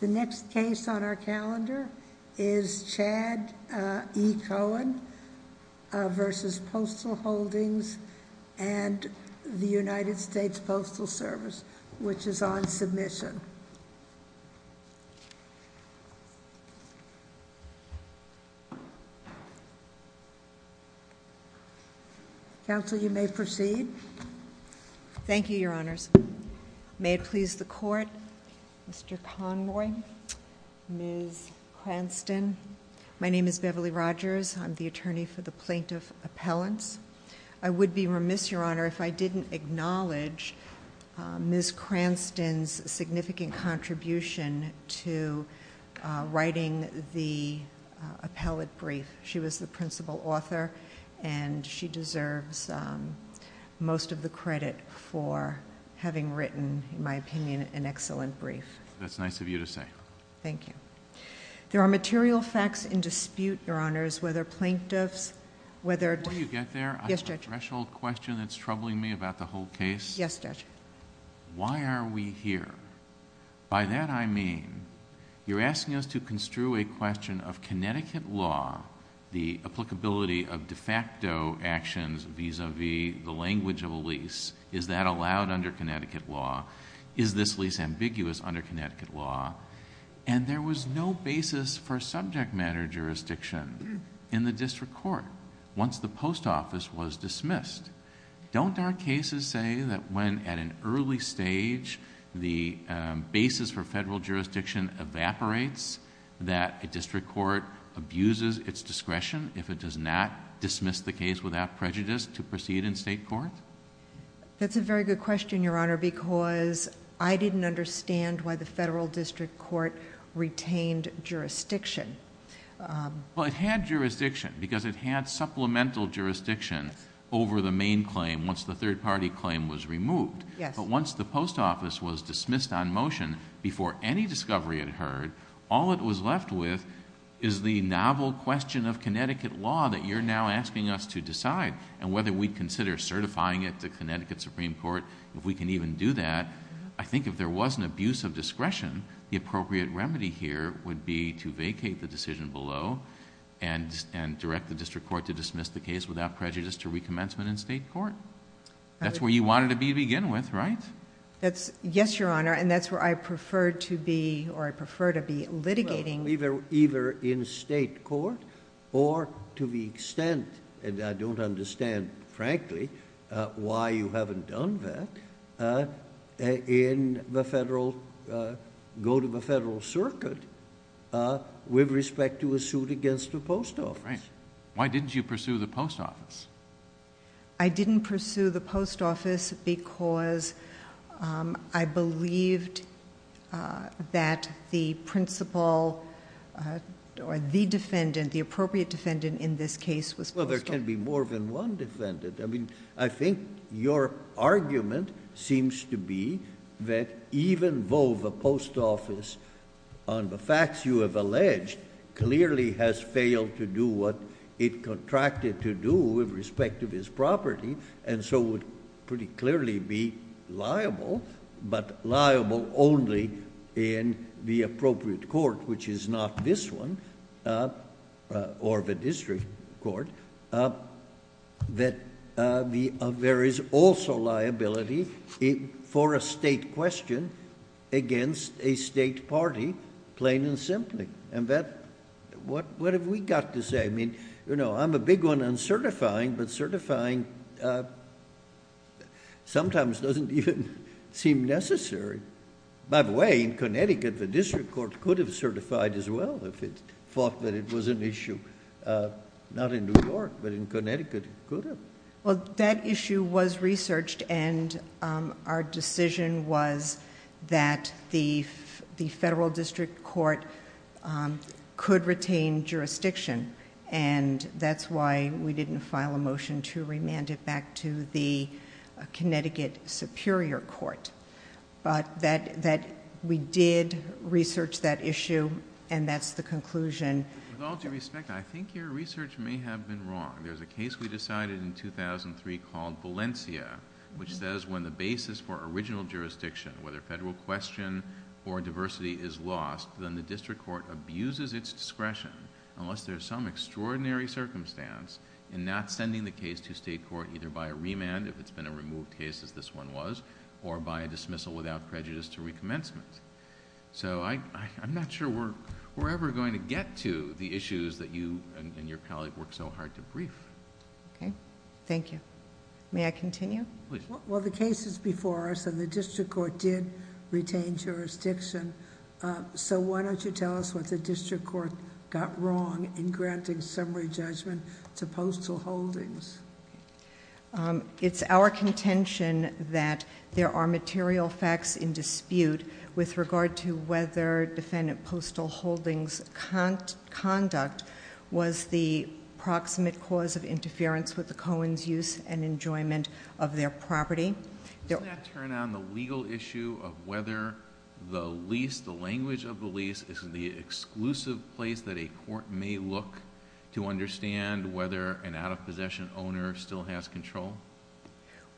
The next case on our calendar is Chad E. Cohen v. Postal Holdings and the United States Postal Service, which is on submission. Counsel, you may proceed. Thank you, Your Honors. May it please the Court, Mr. Conroy, Ms. Cranston. My name is Beverly Rogers. I'm the attorney for the plaintiff appellants. I would be remiss, Your Honor, if I didn't acknowledge Ms. Cranston's significant contribution to writing the appellate brief. She was the principal author and she deserves most of the credit for having written, in my opinion, an excellent brief. That's nice of you to say. Thank you. There are material facts in dispute, Your Honors, whether plaintiffs, whether... Before you get there, I have a threshold question that's troubling me about the whole case. Yes, Judge. Why are we here? By that I mean you're asking us to construe a question of Connecticut law, the applicability of de facto actions vis-à-vis the language of a lease. Is that allowed under Connecticut law? Is this lease ambiguous under Connecticut law? There was no basis for subject matter jurisdiction in the district court once the post office was dismissed. Don't our cases say that when at an early stage the basis for federal jurisdiction evaporates, that a district court abuses its discretion if it does not dismiss the case without prejudice to proceed in state court? That's a very good question, Your Honor, because I didn't understand why the federal district court retained jurisdiction. It had jurisdiction because it had supplemental jurisdiction over the main claim once the third party claim was removed. Once the post office was dismissed on motion before any discovery had heard, all it was left with is the novel question of Connecticut law that you're now asking us to decide and whether we consider certifying it to Connecticut Supreme Court, if we can even do that. I think if there was an abuse of discretion, the appropriate remedy here would be to vacate the decision below and direct the district court to dismiss the case without prejudice to recommencement in state court. That's where you wanted to begin with, right? Yes, Your Honor, and that's where I prefer to be litigating. Either in state court or to the extent, and I don't understand, frankly, why you haven't done that, go to the federal circuit with respect to a suit against the post office. Why didn't you pursue the post office? I didn't pursue the post office because I believed that the principal or the defendant, the appropriate defendant in this case was... Well, there can be more than one defendant. I think your argument seems to be that even though the post office, on the facts you have alleged, clearly has failed to do what it contracted to do with respect to this property and so would pretty clearly be liable, but liable only in the appropriate court, which is not this one or the district court. There is also liability for a state question against a state party, plain and simply. What have we got to say? I'm a big one on certifying, but certifying sometimes doesn't even seem necessary. By the way, in Connecticut, the district court could have certified as well if it thought that it was an issue. Not in New York, but in Connecticut, it could have. Well, that issue was researched and our decision was that the federal district court could retain jurisdiction, and that's why we didn't file a motion to remand it back to the Connecticut Superior Court. We did research that issue and that's the conclusion... With all due respect, I think your research may have been wrong. There's a case we decided in 2003 called Valencia, which says when the basis for original jurisdiction, whether federal question or diversity, is lost, then the district court abuses its discretion, unless there's some extraordinary circumstance, in not sending the case to state court either by a remand, if it's been a removed case as this one was, or by a dismissal without prejudice to recommencement. I'm not sure we're ever going to get to the issues that you and your colleague worked so hard to brief. Okay, thank you. May I continue? Please. Well, the case is before us and the district court did retain jurisdiction, so why don't you tell us what the district court got wrong in granting summary judgment to postal holdings? It's our contention that there are material facts in dispute with regard to whether defendant postal holdings' conduct was the proximate cause of interference with the Cohen's use and enjoyment of their property. Doesn't that turn on the legal issue of whether the lease, the language of the lease, is the exclusive place that a court may look to understand whether an out-of-possession owner still has control?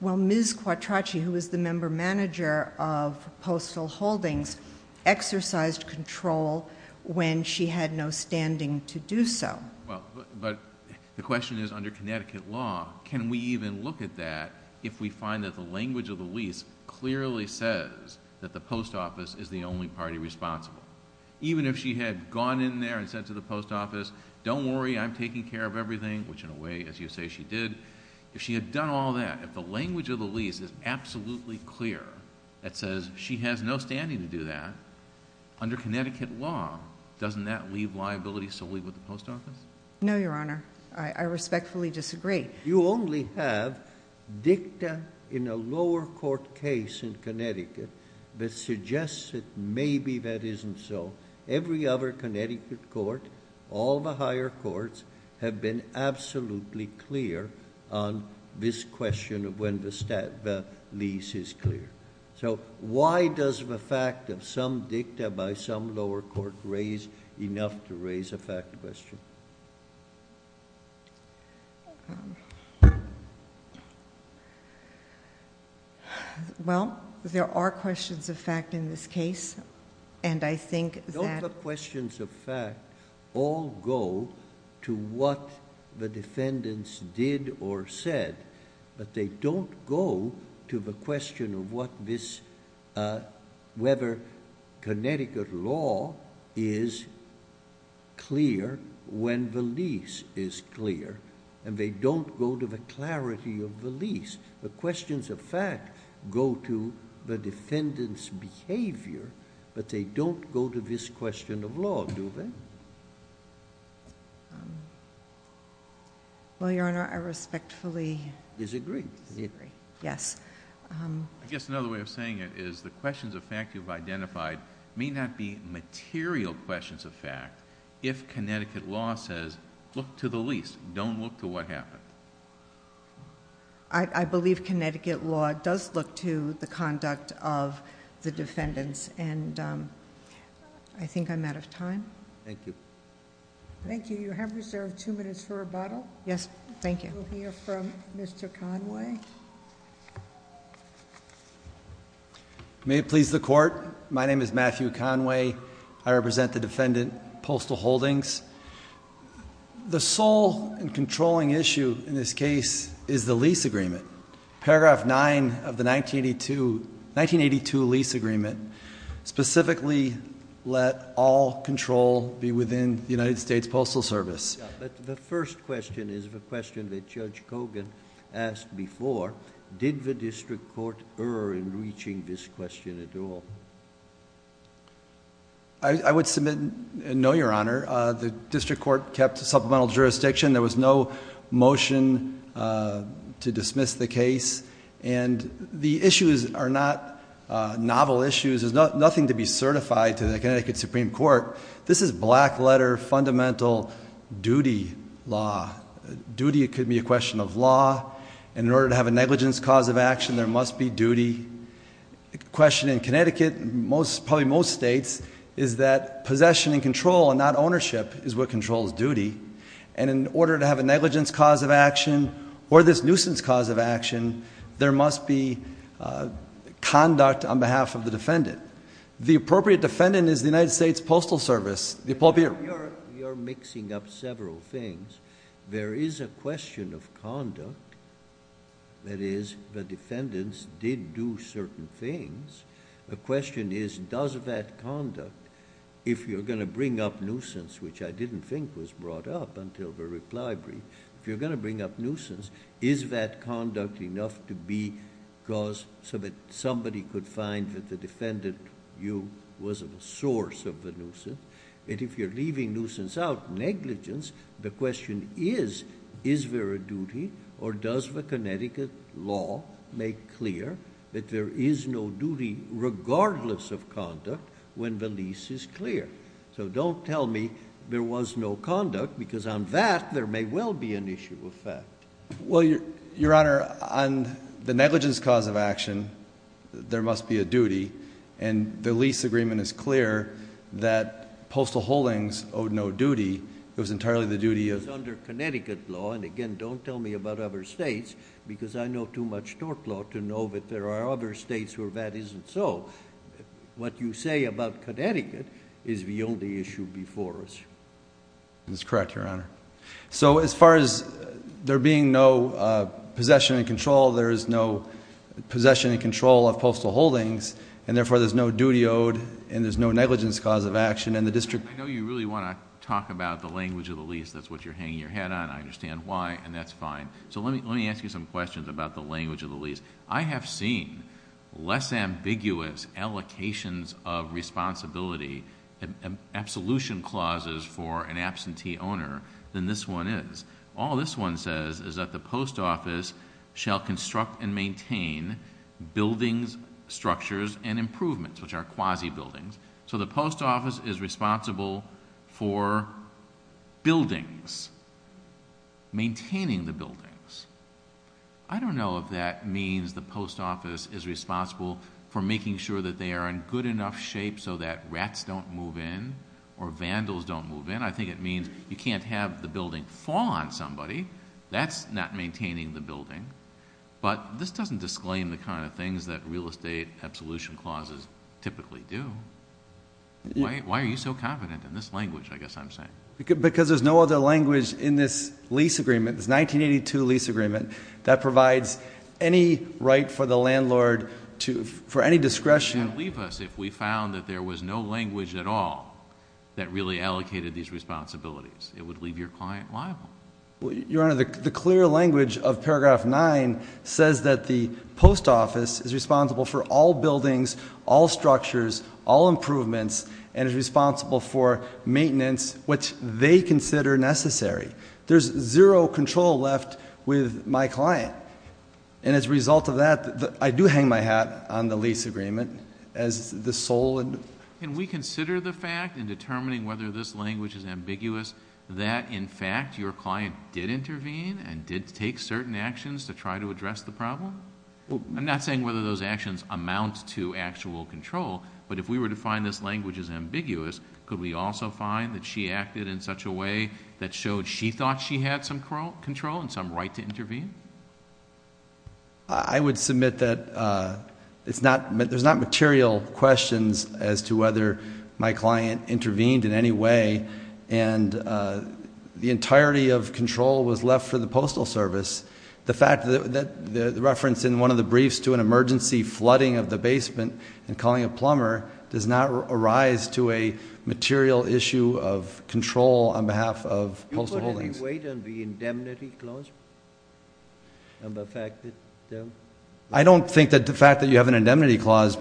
Well, Ms. Quattrochi, who is the member manager of postal holdings, exercised control when she had no standing to do so. But the question is, under Connecticut law, can we even look at that if we find that the language of the lease clearly says that the post office is the only party responsible? Even if she had gone in there and said to the post office, don't worry, I'm taking care of everything, which in a way, as you say, she did. If she had done all that, if the language of the lease is absolutely clear that says she has no standing to do that, under Connecticut law, doesn't that leave liability solely with the post office? No, Your Honor. I respectfully disagree. You only have dicta in a lower court case in Connecticut that suggests that maybe that isn't so. Every other Connecticut court, all the higher courts, have been absolutely clear on this question of when the lease is clear. Why does the fact of some dicta by some lower court raise enough to raise a fact question? Well, there are questions of fact in this case, and I think that... the defendants did or said, but they don't go to the question of whether Connecticut law is clear when the lease is clear, and they don't go to the clarity of the lease. The questions of fact go to the defendant's behavior, but they don't go to this question of law, do they? Well, Your Honor, I respectfully disagree. Disagree. Yes. I guess another way of saying it is the questions of fact you've identified may not be material questions of fact if Connecticut law says look to the lease, don't look to what happened. I believe Connecticut law does look to the conduct of the defendants, and I think I'm out of time. Thank you. Thank you. You have reserved two minutes for rebuttal. Yes, thank you. We'll hear from Mr. Conway. May it please the Court, my name is Matthew Conway. I represent the defendant, Postal Holdings. The sole and controlling issue in this case is the lease agreement. Paragraph 9 of the 1982 lease agreement specifically let all control be within the United States Postal Service. The first question is the question that Judge Cogan asked before. Did the district court err in reaching this question at all? I would submit no, Your Honor. The district court kept supplemental jurisdiction. There was no motion to dismiss the case, and the issues are not novel issues. There's nothing to be certified to the Connecticut Supreme Court. This is black letter, fundamental duty law. Duty could be a question of law, and in order to have a negligence cause of action, there must be duty. The question in Connecticut, probably most states, is that possession and control and not ownership is what controls duty. In order to have a negligence cause of action or this nuisance cause of action, there must be conduct on behalf of the defendant. The appropriate defendant is the United States Postal Service, the appropriate... You're mixing up several things. There is a question of conduct. That is, the defendants did do certain things. The question is, does that conduct, if you're going to bring up nuisance, which I didn't think was brought up until the reply brief, if you're going to bring up nuisance, is that conduct enough to be caused so that somebody could find that the defendant, you, was a source of the nuisance? If you're leaving nuisance out, negligence, the question is, is there a duty or does the Connecticut law make clear that there is no duty regardless of conduct when the lease is clear? So, don't tell me there was no conduct because on that, there may well be an issue of fact. Well, Your Honor, on the negligence cause of action, there must be a duty. And the lease agreement is clear that postal holdings owed no duty. It was entirely the duty of... If there are other states where that isn't so, what you say about Connecticut is the only issue before us. That's correct, Your Honor. So, as far as there being no possession and control, there is no possession and control of postal holdings, and therefore, there's no duty owed and there's no negligence cause of action, and the district... I know you really want to talk about the language of the lease. That's what you're hanging your head on. I understand why, and that's fine. So, let me ask you some questions about the language of the lease. I have seen less ambiguous allocations of responsibility and absolution clauses for an absentee owner than this one is. All this one says is that the post office shall construct and maintain buildings, structures, and improvements, which are quasi-buildings. So, the post office is responsible for buildings, maintaining the buildings. I don't know if that means the post office is responsible for making sure that they are in good enough shape so that rats don't move in or vandals don't move in. I think it means you can't have the building fall on somebody. That's not maintaining the building. But, this doesn't disclaim the kind of things that real estate absolution clauses typically do. Why are you so confident in this language, I guess I'm saying? Because there's no other language in this lease agreement, this 1982 lease agreement, that provides any right for the landlord for any discretion. You can't leave us if we found that there was no language at all that really allocated these responsibilities. It would leave your client liable. Your Honor, the clear language of paragraph 9 says that the post office is responsible for all buildings, all structures, all improvements, and is responsible for maintenance, which they consider necessary. There's zero control left with my client. And, as a result of that, I do hang my hat on the lease agreement as the sole. Can we consider the fact in determining whether this language is ambiguous that, in fact, your client did intervene and did take certain actions to try to address the problem? I'm not saying whether those actions amount to actual control, but if we were to find this language is ambiguous, could we also find that she acted in such a way that showed she thought she had some control and some right to intervene? I would submit that there's not material questions as to whether my client intervened in any way, and the entirety of control was left for the postal service. The fact that the reference in one of the briefs to an emergency flooding of the basement and calling a plumber does not arise to a material issue of control on behalf of postal holdings. Do you put any weight on the indemnity clause and the fact that they're? I don't think that the fact that you have an indemnity clause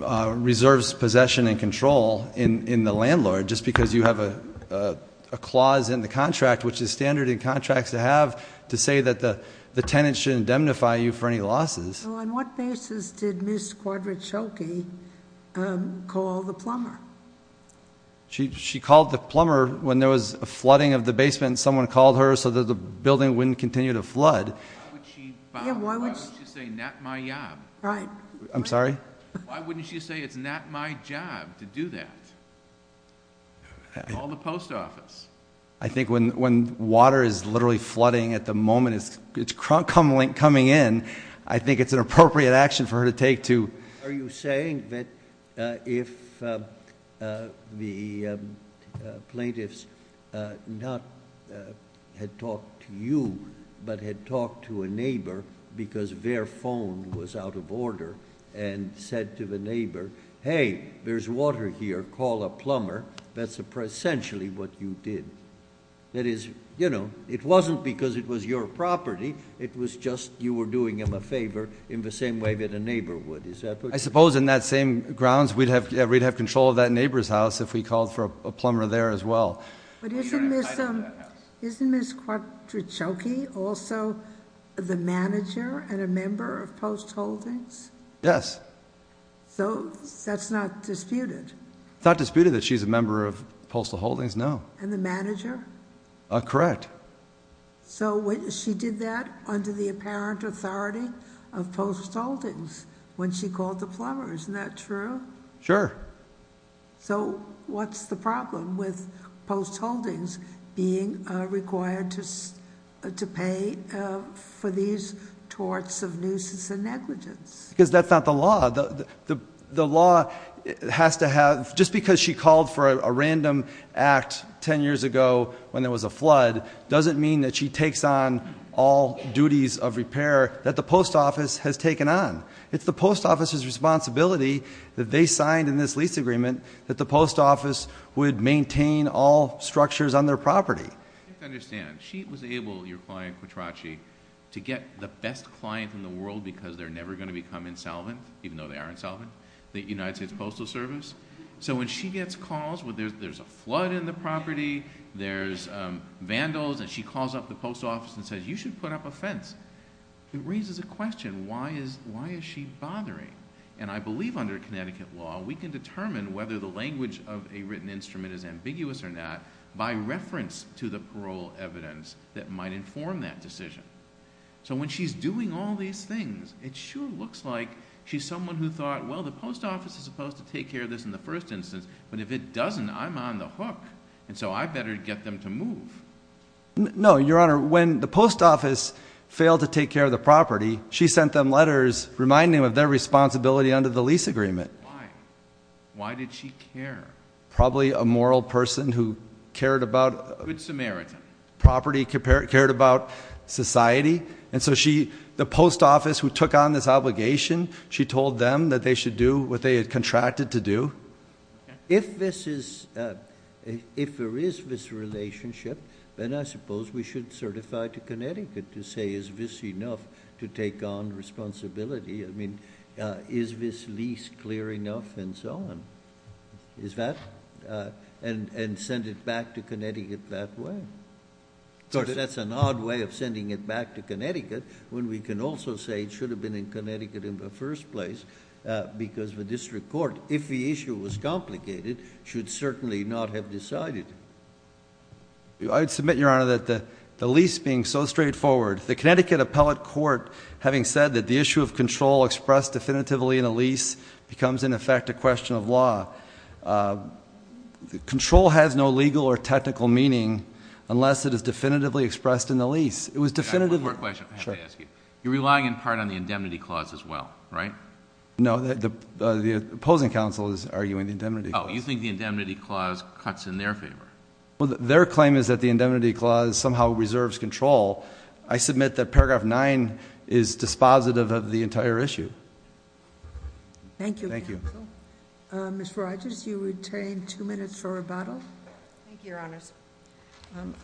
reserves possession and control in the landlord just because you have a clause in the contract, which is standard in contracts to have, to say that the tenant should indemnify you for any losses. Well, on what basis did Ms. Quadrachoki call the plumber? She called the plumber when there was a flooding of the basement, and someone called her so that the building wouldn't continue to flood. Why would she say, not my job? I'm sorry? Why wouldn't she say, it's not my job to do that? Call the post office. I think when water is literally flooding at the moment it's coming in, I think it's an appropriate action for her to take to. Are you saying that if the plaintiffs not had talked to you but had talked to a neighbor because their phone was out of order and said to the neighbor, hey, there's water here, call a plumber, that's essentially what you did? That is, you know, it wasn't because it was your property, it was just you were doing them a favor in the same way that a neighbor would. I suppose in that same grounds we'd have control of that neighbor's house if we called for a plumber there as well. But isn't Ms. Quadrachoki also the manager and a member of Post Holdings? Yes. So that's not disputed? It's not disputed that she's a member of Postal Holdings, no. And the manager? Correct. So she did that under the apparent authority of Post Holdings when she called the plumber, isn't that true? Sure. So what's the problem with Post Holdings being required to pay for these torts of nuisance and negligence? Because that's not the law. The law has to have, just because she called for a random act ten years ago when there was a flood, doesn't mean that she takes on all duties of repair that the post office has taken on. It's the post office's responsibility that they signed in this lease agreement that the post office would maintain all structures on their property. You have to understand, she was able, your client Quadrachoki, to get the best client in the world because they're never going to become insolvent, even though they are insolvent, the United States Postal Service. So when she gets calls, there's a flood in the property, there's vandals, and she calls up the post office and says, you should put up a fence. It raises a question, why is she bothering? And I believe under Connecticut law, we can determine whether the language of a written instrument is ambiguous or not by reference to the parole evidence that might inform that decision. So when she's doing all these things, it sure looks like she's someone who thought, well, the post office is supposed to take care of this in the first instance, but if it doesn't, I'm on the hook, and so I better get them to move. No, Your Honor, when the post office failed to take care of the property, she sent them letters reminding them of their responsibility under the lease agreement. Why? Why did she care? Probably a moral person who cared about property, cared about society, and so the post office who took on this obligation, she told them that they should do what they had contracted to do. If there is this relationship, then I suppose we should certify to Connecticut to say, is this enough to take on responsibility? I mean, is this lease clear enough? And send it back to Connecticut that way. That's an odd way of sending it back to Connecticut, when we can also say it should have been in Connecticut in the first place, because the district court, if the issue was complicated, should certainly not have decided. I would submit, Your Honor, that the lease being so straightforward, the Connecticut appellate court having said that the issue of control expressed definitively in a lease becomes, in effect, a question of law. Control has no legal or technical meaning unless it is definitively expressed in the lease. It was definitively. One more question I have to ask you. You're relying in part on the indemnity clause as well, right? No, the opposing counsel is arguing the indemnity clause. Oh, you think the indemnity clause cuts in their favor? Their claim is that the indemnity clause somehow reserves control. I submit that paragraph 9 is dispositive of the entire issue. Thank you. Thank you. Ms. Rogers, you retain two minutes for rebuttal. Thank you, Your Honors.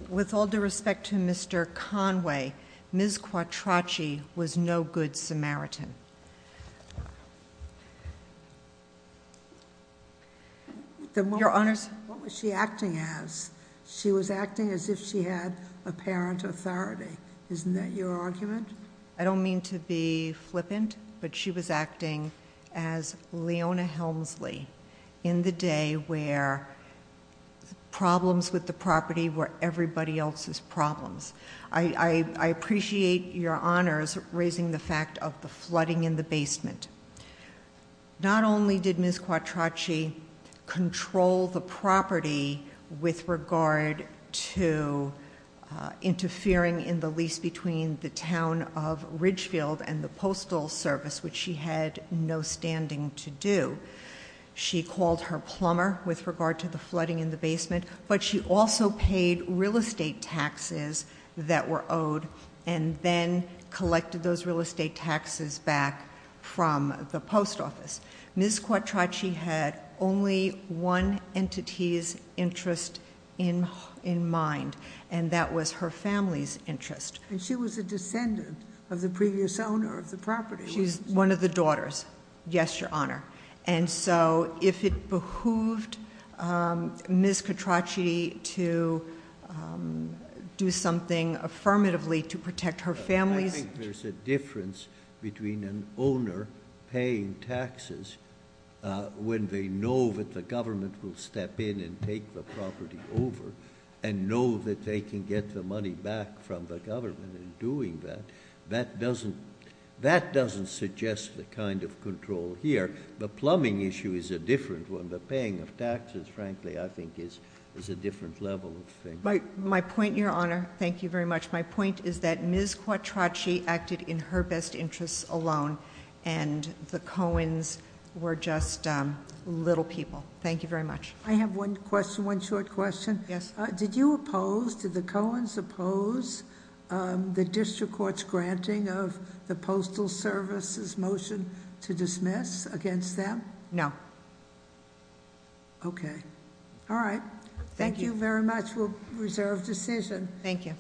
With all due respect to Mr. Conway, Ms. Quattrochi was no good Samaritan. Your Honors. What was she acting as? She was acting as if she had apparent authority. Isn't that your argument? I don't mean to be flippant, but she was acting as Leona Helmsley in the day where problems with the property were everybody else's problems. I appreciate Your Honors raising the fact of the flooding in the basement. Not only did Ms. Quattrochi control the property with regard to interfering in the lease between the town of Ridgefield and the Postal Service, which she had no standing to do. She called her plumber with regard to the flooding in the basement, but she also paid real estate taxes that were owed and then collected those real estate taxes back from the post office. Ms. Quattrochi had only one entity's interest in mind, and that was her family's interest. And she was a descendant of the previous owner of the property. She's one of the daughters. Yes, Your Honor. And so if it behooved Ms. Quattrochi to do something affirmatively to protect her family's— I think there's a difference between an owner paying taxes when they know that the government will step in and take the property over and know that they can get the money back from the government in doing that. That doesn't suggest the kind of control here. The plumbing issue is a different one. The paying of taxes, frankly, I think is a different level of thing. My point, Your Honor—thank you very much. My point is that Ms. Quattrochi acted in her best interests alone, and the Coens were just little people. Thank you very much. I have one question, one short question. Yes. Did you oppose—did the Coens oppose the district court's granting of the Postal Service's motion to dismiss against them? No. Okay. All right. Thank you. Thank you very much. We'll reserve decision. Thank you.